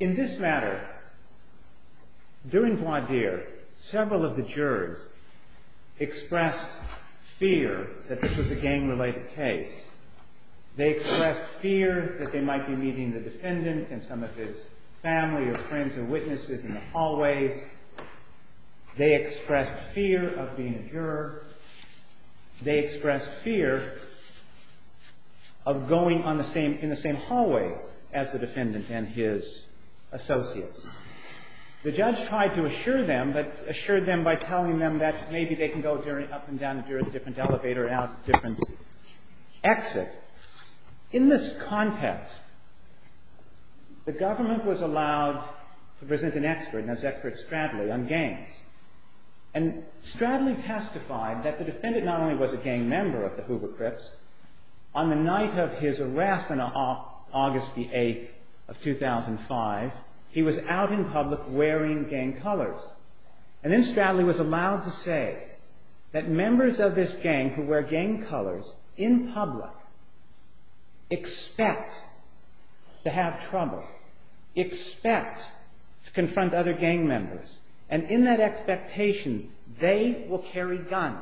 In this matter, during voir dire, several of the jurors expressed fear that this was a gang-related case. They expressed fear that they might be meeting the defendant and some of his family or friends or witnesses in the hallways. They expressed fear of being a juror. They expressed fear of going in the same hallway as the defendant and his associates. The judge tried to assure them by telling them that maybe they can go up and down a different elevator and out a different exit. In this context, the government was allowed to present an expert, and this expert is Stradley, on gangs. And Stradley testified that the defendant not only was a gang member of the Hoover Crips, on the night of his arrest on August the 8th of 2005, he was out in public wearing gang colors. And then Stradley was allowed to say that members of this gang who wear gang colors in public expect to have trouble, expect to confront other gang members. And in that expectation, they will carry guns.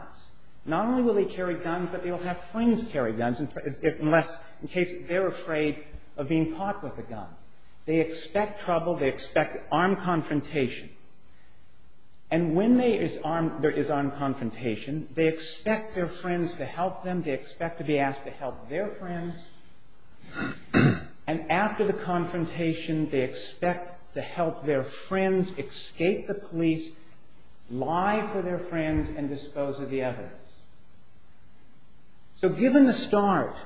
Not only will they carry guns, but they will have friends carry guns in case they're afraid of being caught with a gun. They expect trouble. They expect armed confrontation. And when there is armed confrontation, they expect their friends to help them. They expect to be asked to help their friends. And after the confrontation, they expect to help their friends escape the police, lie for their friends, and dispose of the evidence. So given the start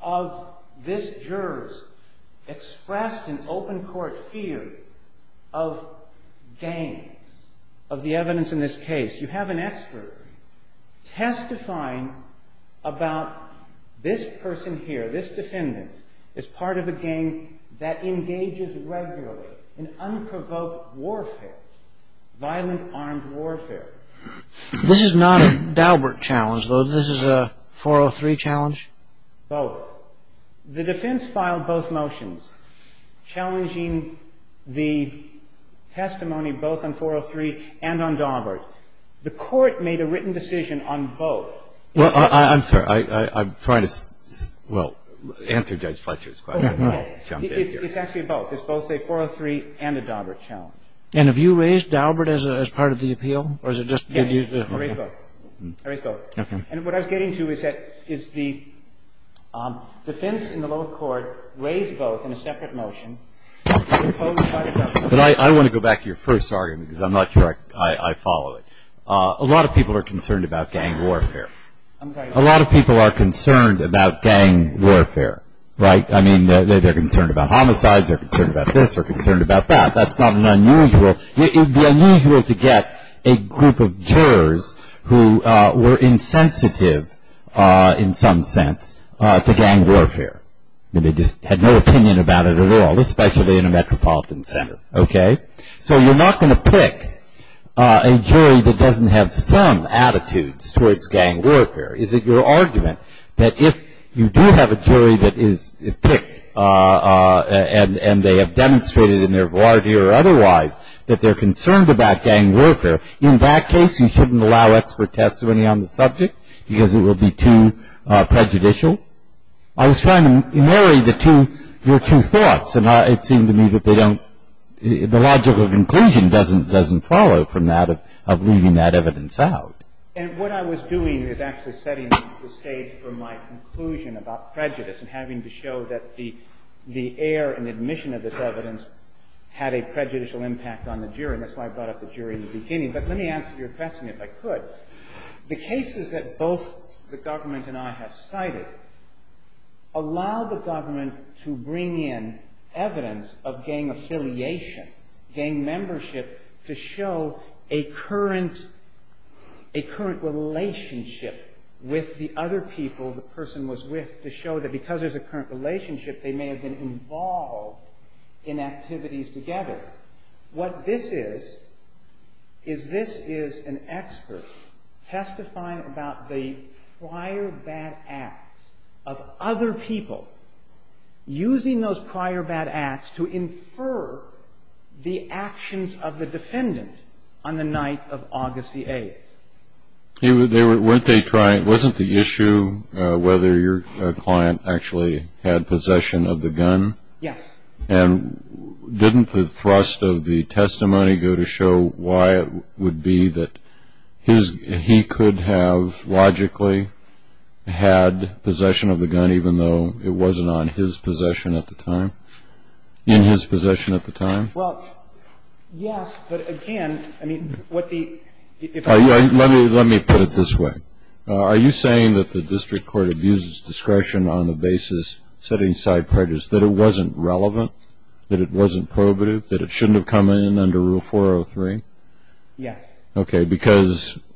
of this juror's expressed in open court fear of gangs, of the evidence in this case, you have an expert testifying about this person here, this defendant, as part of a gang that engages regularly in unprovoked warfare, violent armed warfare. This is not a Daubert challenge, though. This is a 403 challenge? Both. The defense filed both motions challenging the testimony both on 403 and on Daubert. The court made a written decision on both. Well, I'm sorry. I'm trying to, well, answer Judge Fletcher's question. It's actually both. It's both a 403 and a Daubert challenge. And have you raised Daubert as part of the appeal? Yes, I raised both. I raised both. And what I was getting to is that the defense in the lower court raised both in a separate motion imposed by the government. But I want to go back to your first argument because I'm not sure I follow it. A lot of people are concerned about gang warfare. I'm sorry. A lot of people are concerned about gang warfare, right? I mean, they're concerned about homicides. They're concerned about this or concerned about that. That's not unusual. It would be unusual to get a group of jurors who were insensitive, in some sense, to gang warfare. I mean, they just had no opinion about it at all, especially in a metropolitan center. Okay? So you're not going to pick a jury that doesn't have some attitudes towards gang warfare. Is it your argument that if you do have a jury that is picked and they have demonstrated in their variety or otherwise that they're concerned about gang warfare, in that case you shouldn't allow expert testimony on the subject because it would be too prejudicial? I was trying to marry your two thoughts, and it seemed to me that the logical conclusion doesn't follow from that of leaving that evidence out. And what I was doing is actually setting the stage for my conclusion about prejudice and having to show that the air and admission of this evidence had a prejudicial impact on the jury, and that's why I brought up the jury in the beginning. But let me answer your question, if I could. The cases that both the government and I have cited allow the government to bring in evidence of gang affiliation, gang membership, to show a current relationship with the other people the person was with to show that because there's a current relationship they may have been involved in activities together. What this is, is this is an expert testifying about the prior bad acts of other people using those prior bad acts to infer the actions of the defendant on the night of August the 8th. Wasn't the issue whether your client actually had possession of the gun? Yes. And didn't the thrust of the testimony go to show why it would be that he could have logically had possession of the gun even though it wasn't on his possession at the time, in his possession at the time? Well, yes, but again, I mean, what the – Let me put it this way. Are you saying that the district court abuses discretion on the basis setting aside prejudice, that it wasn't relevant, that it wasn't probative, that it shouldn't have come in under Rule 403? Yes. Okay. Because –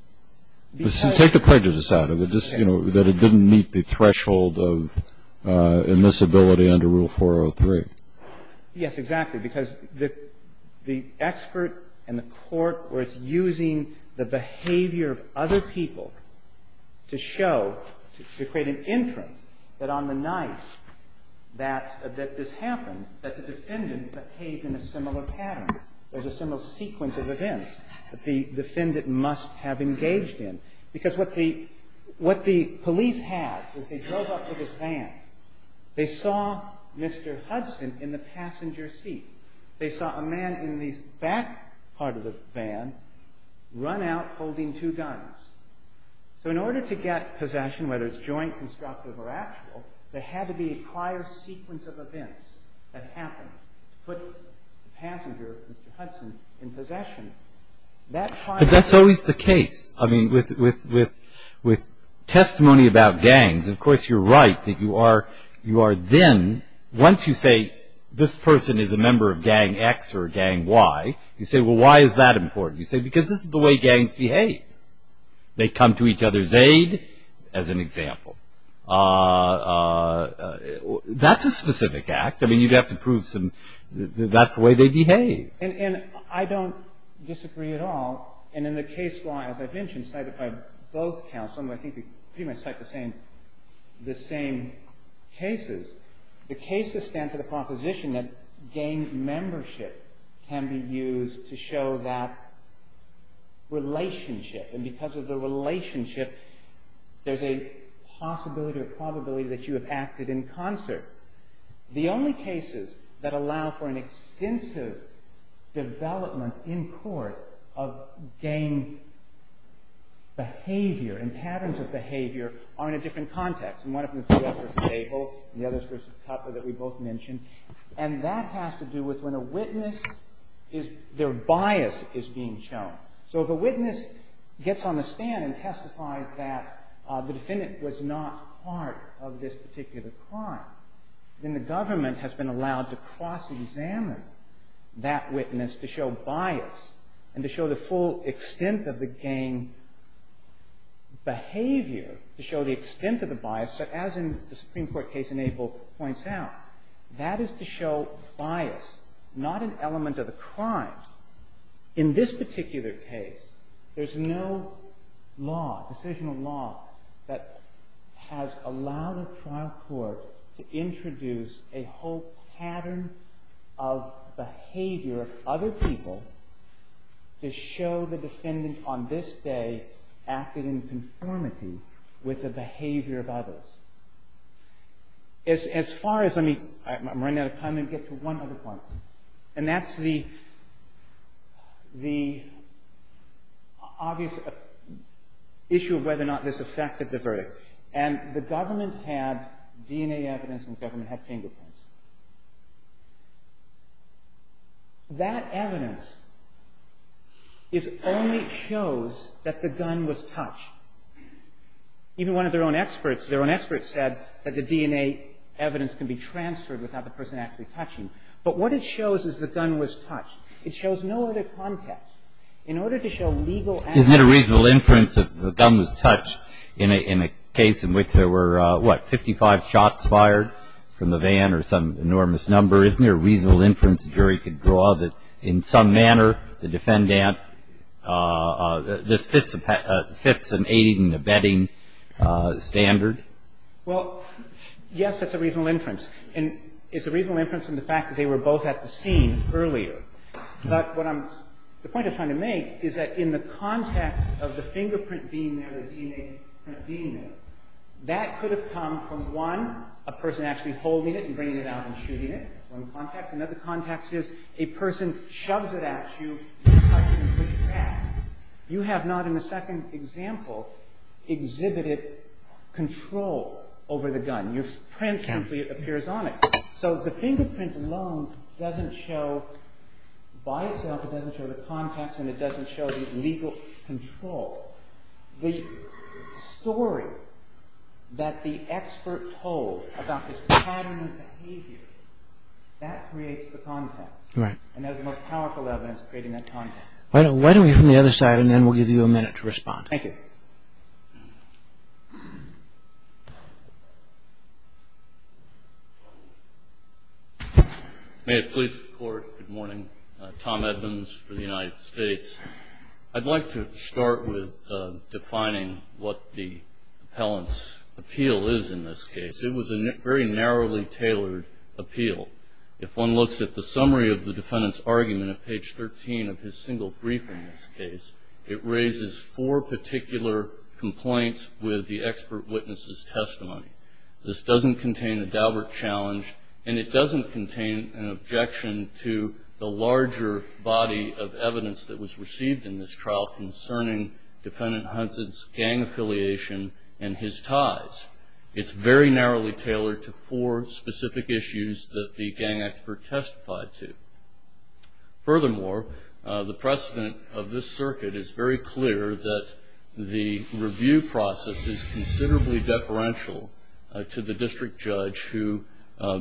take the prejudice out of it, just, you know, that it didn't meet the threshold of admissibility under Rule 403. Yes, exactly. Because the expert and the court were using the behavior of other people to show, to create an inference that on the night that this happened, that the defendant behaved in a similar pattern, there's a similar sequence of events. That the defendant must have engaged in. Because what the police had was they drove up to this van. They saw Mr. Hudson in the passenger seat. They saw a man in the back part of the van run out holding two guns. So in order to get possession, whether it's joint, constructive, or actual, there had to be a prior sequence of events that happened to put the passenger, Mr. Hudson, in possession. But that's always the case. I mean, with testimony about gangs, of course, you're right that you are then, once you say this person is a member of gang X or gang Y, you say, well, why is that important? You say, because this is the way gangs behave. They come to each other's aid, as an example. That's a specific act. I mean, you'd have to prove that's the way they behave. And I don't disagree at all. And in the case law, as I've mentioned, cited by both counsel, and I think we pretty much cite the same cases, the cases stand for the proposition that gang membership can be used to show that relationship. And because of the relationship, there's a possibility or probability that you have acted in concert. The only cases that allow for an extensive development in court of gang behavior and patterns of behavior are in a different context. And one of them is the other versus Abel, and the other is versus Tupper that we both mentioned. And that has to do with when a witness, their bias is being shown. So if a witness gets on the stand and testifies that the defendant was not part of this particular crime, then the government has been allowed to cross-examine that witness to show bias and to show the full extent of the gang behavior, to show the extent of the bias. But as in the Supreme Court case in Abel points out, that is to show bias, not an element of the crime. In this particular case, there's no law, decisional law, that has allowed a trial court to introduce a whole pattern of behavior of other people to show the defendant on this day acted in conformity with the behavior of others. As far as, I'm running out of time, let me get to one other point. And that's the obvious issue of whether or not this affected the verdict. And the government had DNA evidence and the government had fingerprints. That evidence only shows that the gun was touched. Even one of their own experts said that the DNA evidence can be transferred without the person actually touching. But what it shows is the gun was touched. It shows no other context. In order to show legal accuracy to the defendant's case. Breyer. Isn't it a reasonable inference that the gun was touched in a case in which there were, what, 55 shots fired from the van or some enormous number? Isn't there a reasonable inference a jury could draw that in some manner the defendant this fits an aiding and abetting standard? Well, yes, it's a reasonable inference. And it's a reasonable inference in the fact that they were both at the scene earlier. But what I'm, the point I'm trying to make is that in the context of the fingerprint being there, the DNA being there, that could have come from, one, a person actually holding it and bringing it out and shooting it. One context. Another context is a person shoves it at you and touches it with his hand. You have not, in the second example, exhibited control over the gun. Your print simply appears on it. So the fingerprint alone doesn't show, by itself, it doesn't show the context and it doesn't show the legal control. The story that the expert told about this pattern of behavior, that creates the context. And that's the most powerful evidence of creating that context. Why don't we go from the other side and then we'll give you a minute to respond. Thank you. May it please the Court, good morning. Tom Evans for the United States. I'd like to start with defining what the appellant's appeal is in this case. It was a very narrowly tailored appeal. If one looks at the summary of the defendant's argument at page 13 of his single brief in this case, it raises four particular complaints with the expert witness's testimony. This doesn't contain a Daubert challenge, and it doesn't contain an objection to the larger body of evidence that was received in this trial concerning defendant Hudson's gang affiliation and his ties. It's very narrowly tailored to four specific issues that the gang expert testified to. Furthermore, the precedent of this circuit is very clear that the review process is considerably deferential to the district judge who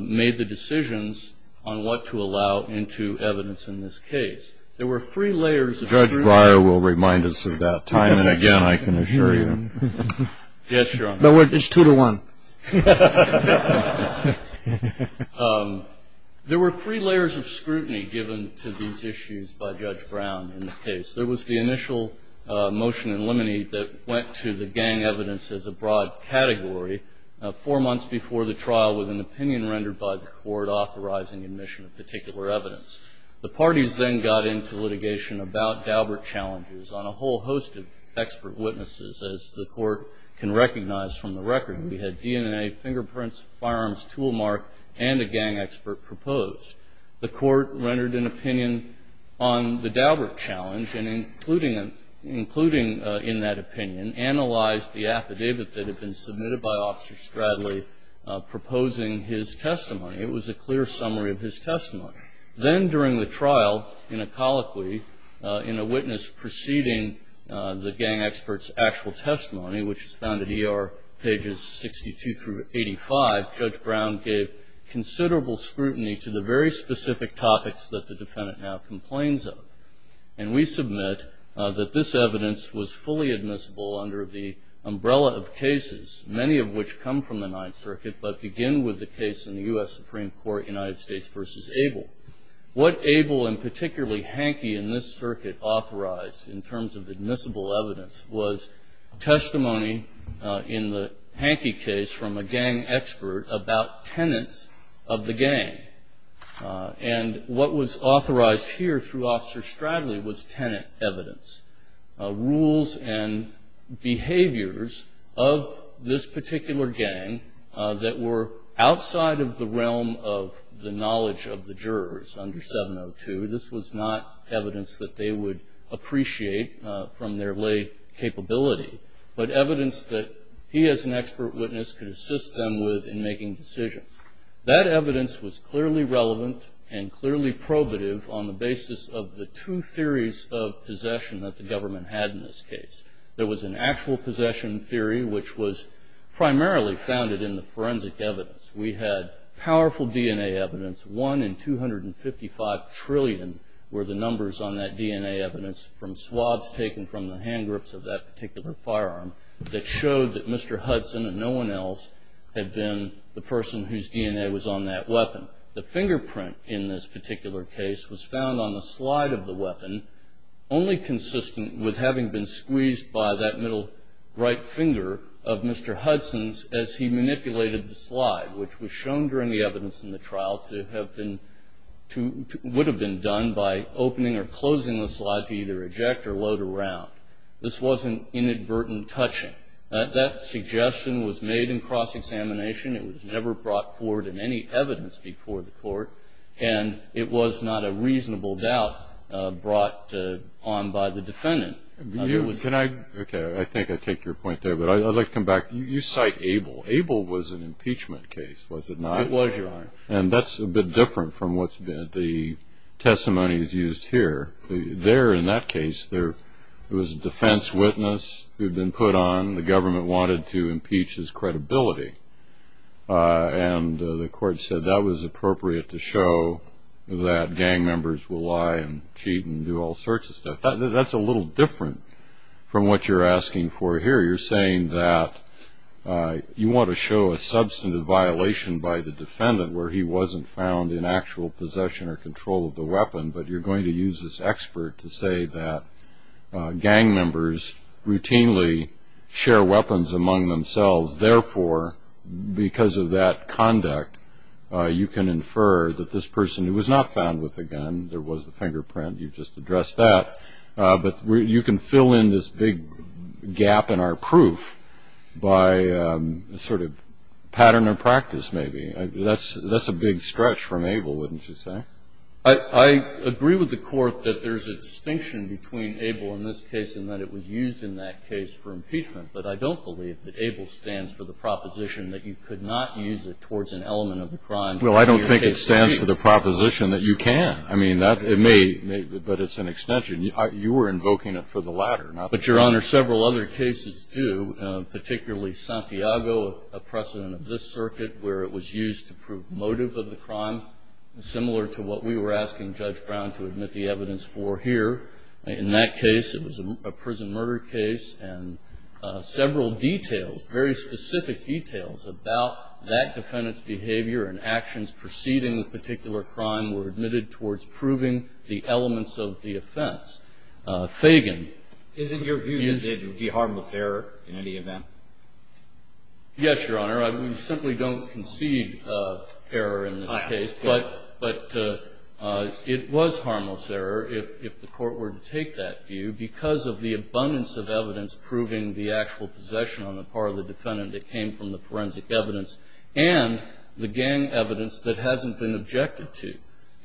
made the decisions on what to allow into evidence in this case. There were three layers of scrutiny. Judge Breyer will remind us of that time and again, I can assure you. Yes, Your Honor. It's two to one. There were three layers of scrutiny given to these issues by Judge Brown in the case. There was the initial motion in limine that went to the gang evidence as a broad category four months before the trial with an opinion rendered by the court authorizing admission of particular evidence. The parties then got into litigation about Daubert challenges on a whole host of expert witnesses as the court can recognize from the record. We had DNA, fingerprints, firearms, tool mark, and a gang expert proposed. The court rendered an opinion on the Daubert challenge and, including in that opinion, analyzed the affidavit that had been submitted by Officer Stradley proposing his testimony. It was a clear summary of his testimony. Then during the trial, in a colloquy, in a witness preceding the gang expert's actual testimony, which is found at ER pages 62 through 85, Judge Brown gave considerable scrutiny to the very specific topics that the defendant now complains of. And we submit that this evidence was fully admissible under the umbrella of cases, many of which come from the Ninth Circuit, but begin with the case in the U.S. Supreme Court, United States v. Abel. What Abel, and particularly Hanke in this circuit, authorized in terms of admissible evidence was testimony in the Hanke case from a gang expert about tenants of the gang. And what was authorized here through Officer Stradley was tenant evidence, rules and behaviors of this particular gang that were outside of the realm of the knowledge of the jurors under 702. This was not evidence that they would appreciate from their lay capability, but evidence that he as an expert witness could assist them with in making decisions. That evidence was clearly relevant and clearly probative on the basis of the two theories of possession that the government had in this case. There was an actual possession theory, which was primarily founded in the forensic evidence. We had powerful DNA evidence. One in 255 trillion were the numbers on that DNA evidence from swabs taken from the hand grips of that particular firearm that showed that Mr. Hudson and no one else had been the person whose DNA was on that weapon. The fingerprint in this particular case was found on the slide of the weapon, only consistent with having been squeezed by that middle right finger of Mr. Hudson's as he manipulated the slide, which was shown during the evidence in the trial to have been, would have been done by opening or closing the slide to either eject or load around. This wasn't inadvertent touching. That suggestion was made in cross-examination. It was never brought forward in any evidence before the court, and it was not a reasonable doubt brought on by the defendant. Can I, okay, I think I take your point there, but I'd like to come back. You cite Abel. Abel was an impeachment case, was it not? It was, Your Honor. And that's a bit different from what the testimony is used here. There, in that case, there was a defense witness who had been put on. The government wanted to impeach his credibility, and the court said that was appropriate to show that gang members will lie and cheat and do all sorts of stuff. That's a little different from what you're asking for here. You're saying that you want to show a substantive violation by the defendant where he wasn't found in actual possession or control of the weapon, but you're going to use this expert to say that gang members routinely share weapons among themselves. Therefore, because of that conduct, you can infer that this person who was not found with the gun, there was the fingerprint. You've just addressed that. But you can fill in this big gap in our proof by a sort of pattern of practice, maybe. That's a big stretch from Abel, wouldn't you say? I agree with the Court that there's a distinction between Abel in this case and that it was used in that case for impeachment, but I don't believe that Abel stands for the proposition that you could not use it towards an element of the crime. Well, I don't think it stands for the proposition that you can. I mean, it may, but it's an extension. You were invoking it for the latter, not the first. But, Your Honor, several other cases do, particularly Santiago, a precedent of this circuit, where it was used to prove motive of the crime, similar to what we were asking Judge Brown to admit the evidence for here. In that case, it was a prison murder case, and several details, very specific details about that defendant's behavior and actions preceding the particular crime were admitted towards proving the elements of the offense. Fagan. Isn't your view that it would be harmless error in any event? Yes, Your Honor. We simply don't concede error in this case. I understand. But it was harmless error, if the Court were to take that view, because of the abundance of evidence proving the actual possession on the part of the defendant that came from the forensic evidence and the gang evidence that hasn't been objected to.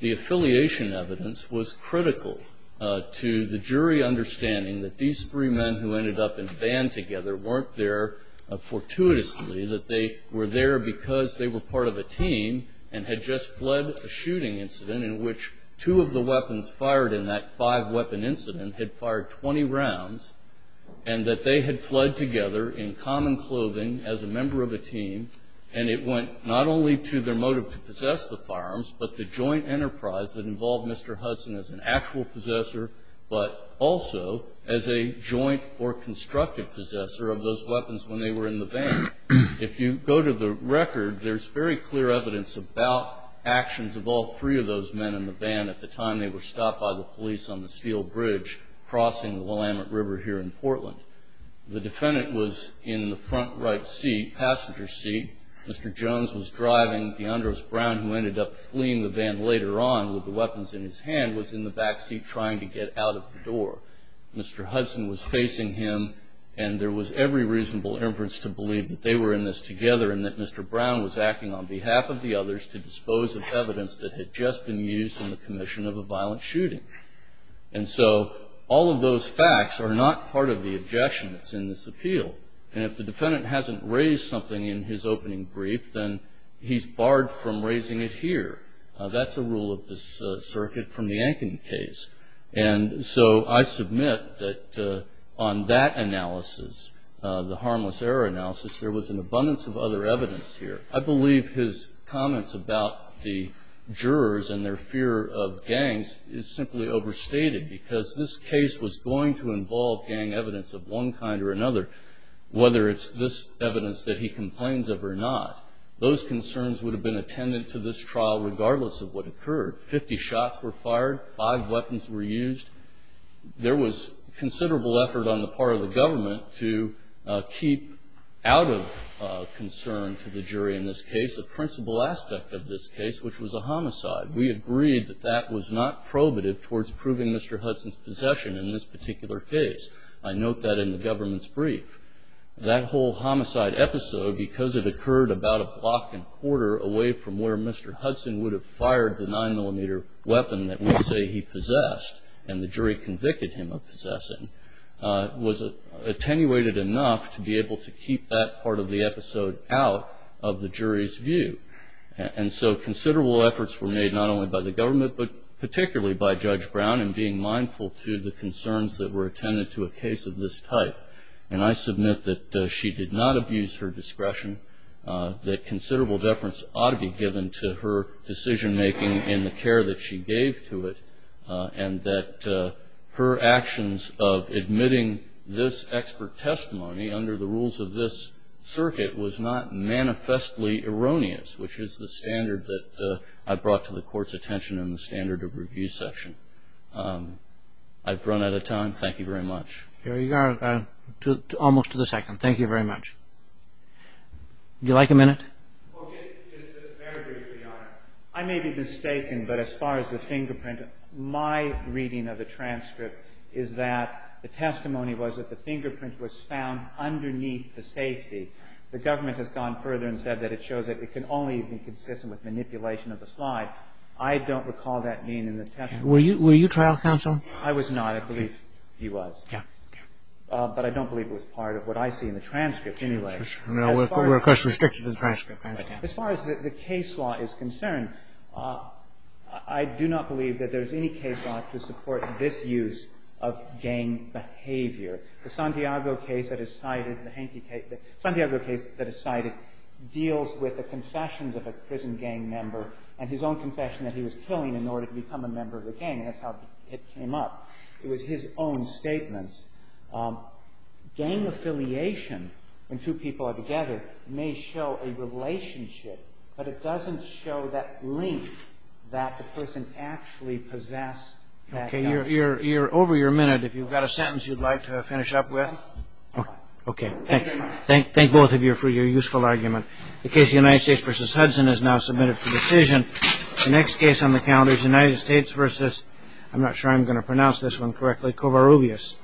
The affiliation evidence was critical to the jury understanding that these three men who ended up in a band together weren't there fortuitously, that they were there because they were part of a team and had just fled a shooting incident in which two of the weapons fired in that five-weapon incident had fired 20 rounds, and that they had fled together in common clothing as a member of a team. And it went not only to their motive to possess the firearms, but the joint enterprise that involved Mr. Hudson as an actual possessor, but also as a joint or constructed possessor of those weapons when they were in the band. If you go to the record, there's very clear evidence about actions of all three of those men in the band at the time they were stopped by the police on the steel bridge crossing the Willamette River here in Portland. The defendant was in the front right seat, passenger seat. Mr. Jones was driving. DeAndres Brown, who ended up fleeing the band later on with the weapons in his hand, was in the back seat trying to get out of the door. Mr. Hudson was facing him. And there was every reasonable inference to believe that they were in this together and that Mr. Brown was acting on behalf of the others to dispose of evidence that had just been used in the commission of a violent shooting. And so all of those facts are not part of the objection that's in this appeal. And if the defendant hasn't raised something in his opening brief, then he's barred from raising it here. That's a rule of this circuit from the Ankeny case. And so I submit that on that analysis, the harmless error analysis, there was an abundance of other evidence here. I believe his comments about the jurors and their fear of gangs is simply overstated because this case was going to involve gang evidence of one kind or another, whether it's this evidence that he complains of or not. Those concerns would have been attended to this trial regardless of what occurred. Fifty shots were fired. Five weapons were used. There was considerable effort on the part of the government to keep out of concern to the jury in this case the principal aspect of this case, which was a homicide. We agreed that that was not probative towards proving Mr. Hudson's possession in this particular case. I note that in the government's brief. That whole homicide episode, because it occurred about a block and quarter away from where Mr. Hudson would have fired the 9-millimeter weapon that we say he possessed and the jury convicted him of possessing, was attenuated enough to be able to keep that part of the episode out of the jury's view. And so considerable efforts were made not only by the government but particularly by Judge Brown in being mindful to the concerns that were attended to a case of this type. And I submit that she did not abuse her discretion, that considerable deference ought to be given to her decision-making and the care that she gave to it, and that her actions of admitting this expert testimony under the rules of this circuit was not manifestly erroneous, which is the standard that I brought to the Court's attention in the standard of review section. I've run out of time. Thank you very much. Here you are, almost to the second. Thank you very much. Would you like a minute? Well, just very briefly, Your Honor. I may be mistaken, but as far as the fingerprint, my reading of the transcript is that the testimony was that the fingerprint was found underneath the safety. The government has gone further and said that it shows that it can only be consistent with manipulation of the slide. I don't recall that being in the testimony. Were you trial counsel? I was not. I do not believe he was. Yeah. But I don't believe it was part of what I see in the transcript anyway. No, we're, of course, restricted in the transcript. As far as the case law is concerned, I do not believe that there's any case law to support this use of gang behavior. The Santiago case that is cited, the Santiago case that is cited, deals with the confessions of a prison gang member and his own confession that he was killing in order to become a member of the gang. That's how it came up. It was his own statements. Gang affiliation, when two people are together, may show a relationship, but it doesn't show that link that the person actually possessed that gun. Okay. You're over your minute. If you've got a sentence you'd like to finish up with. Okay. Thank you very much. Thank both of you for your useful argument. The case of the United States v. Hudson is now submitted for decision. The next case on the calendar is United States v. I'm not sure I'm going to pronounce this one correctly, Covarrubias. Thank you.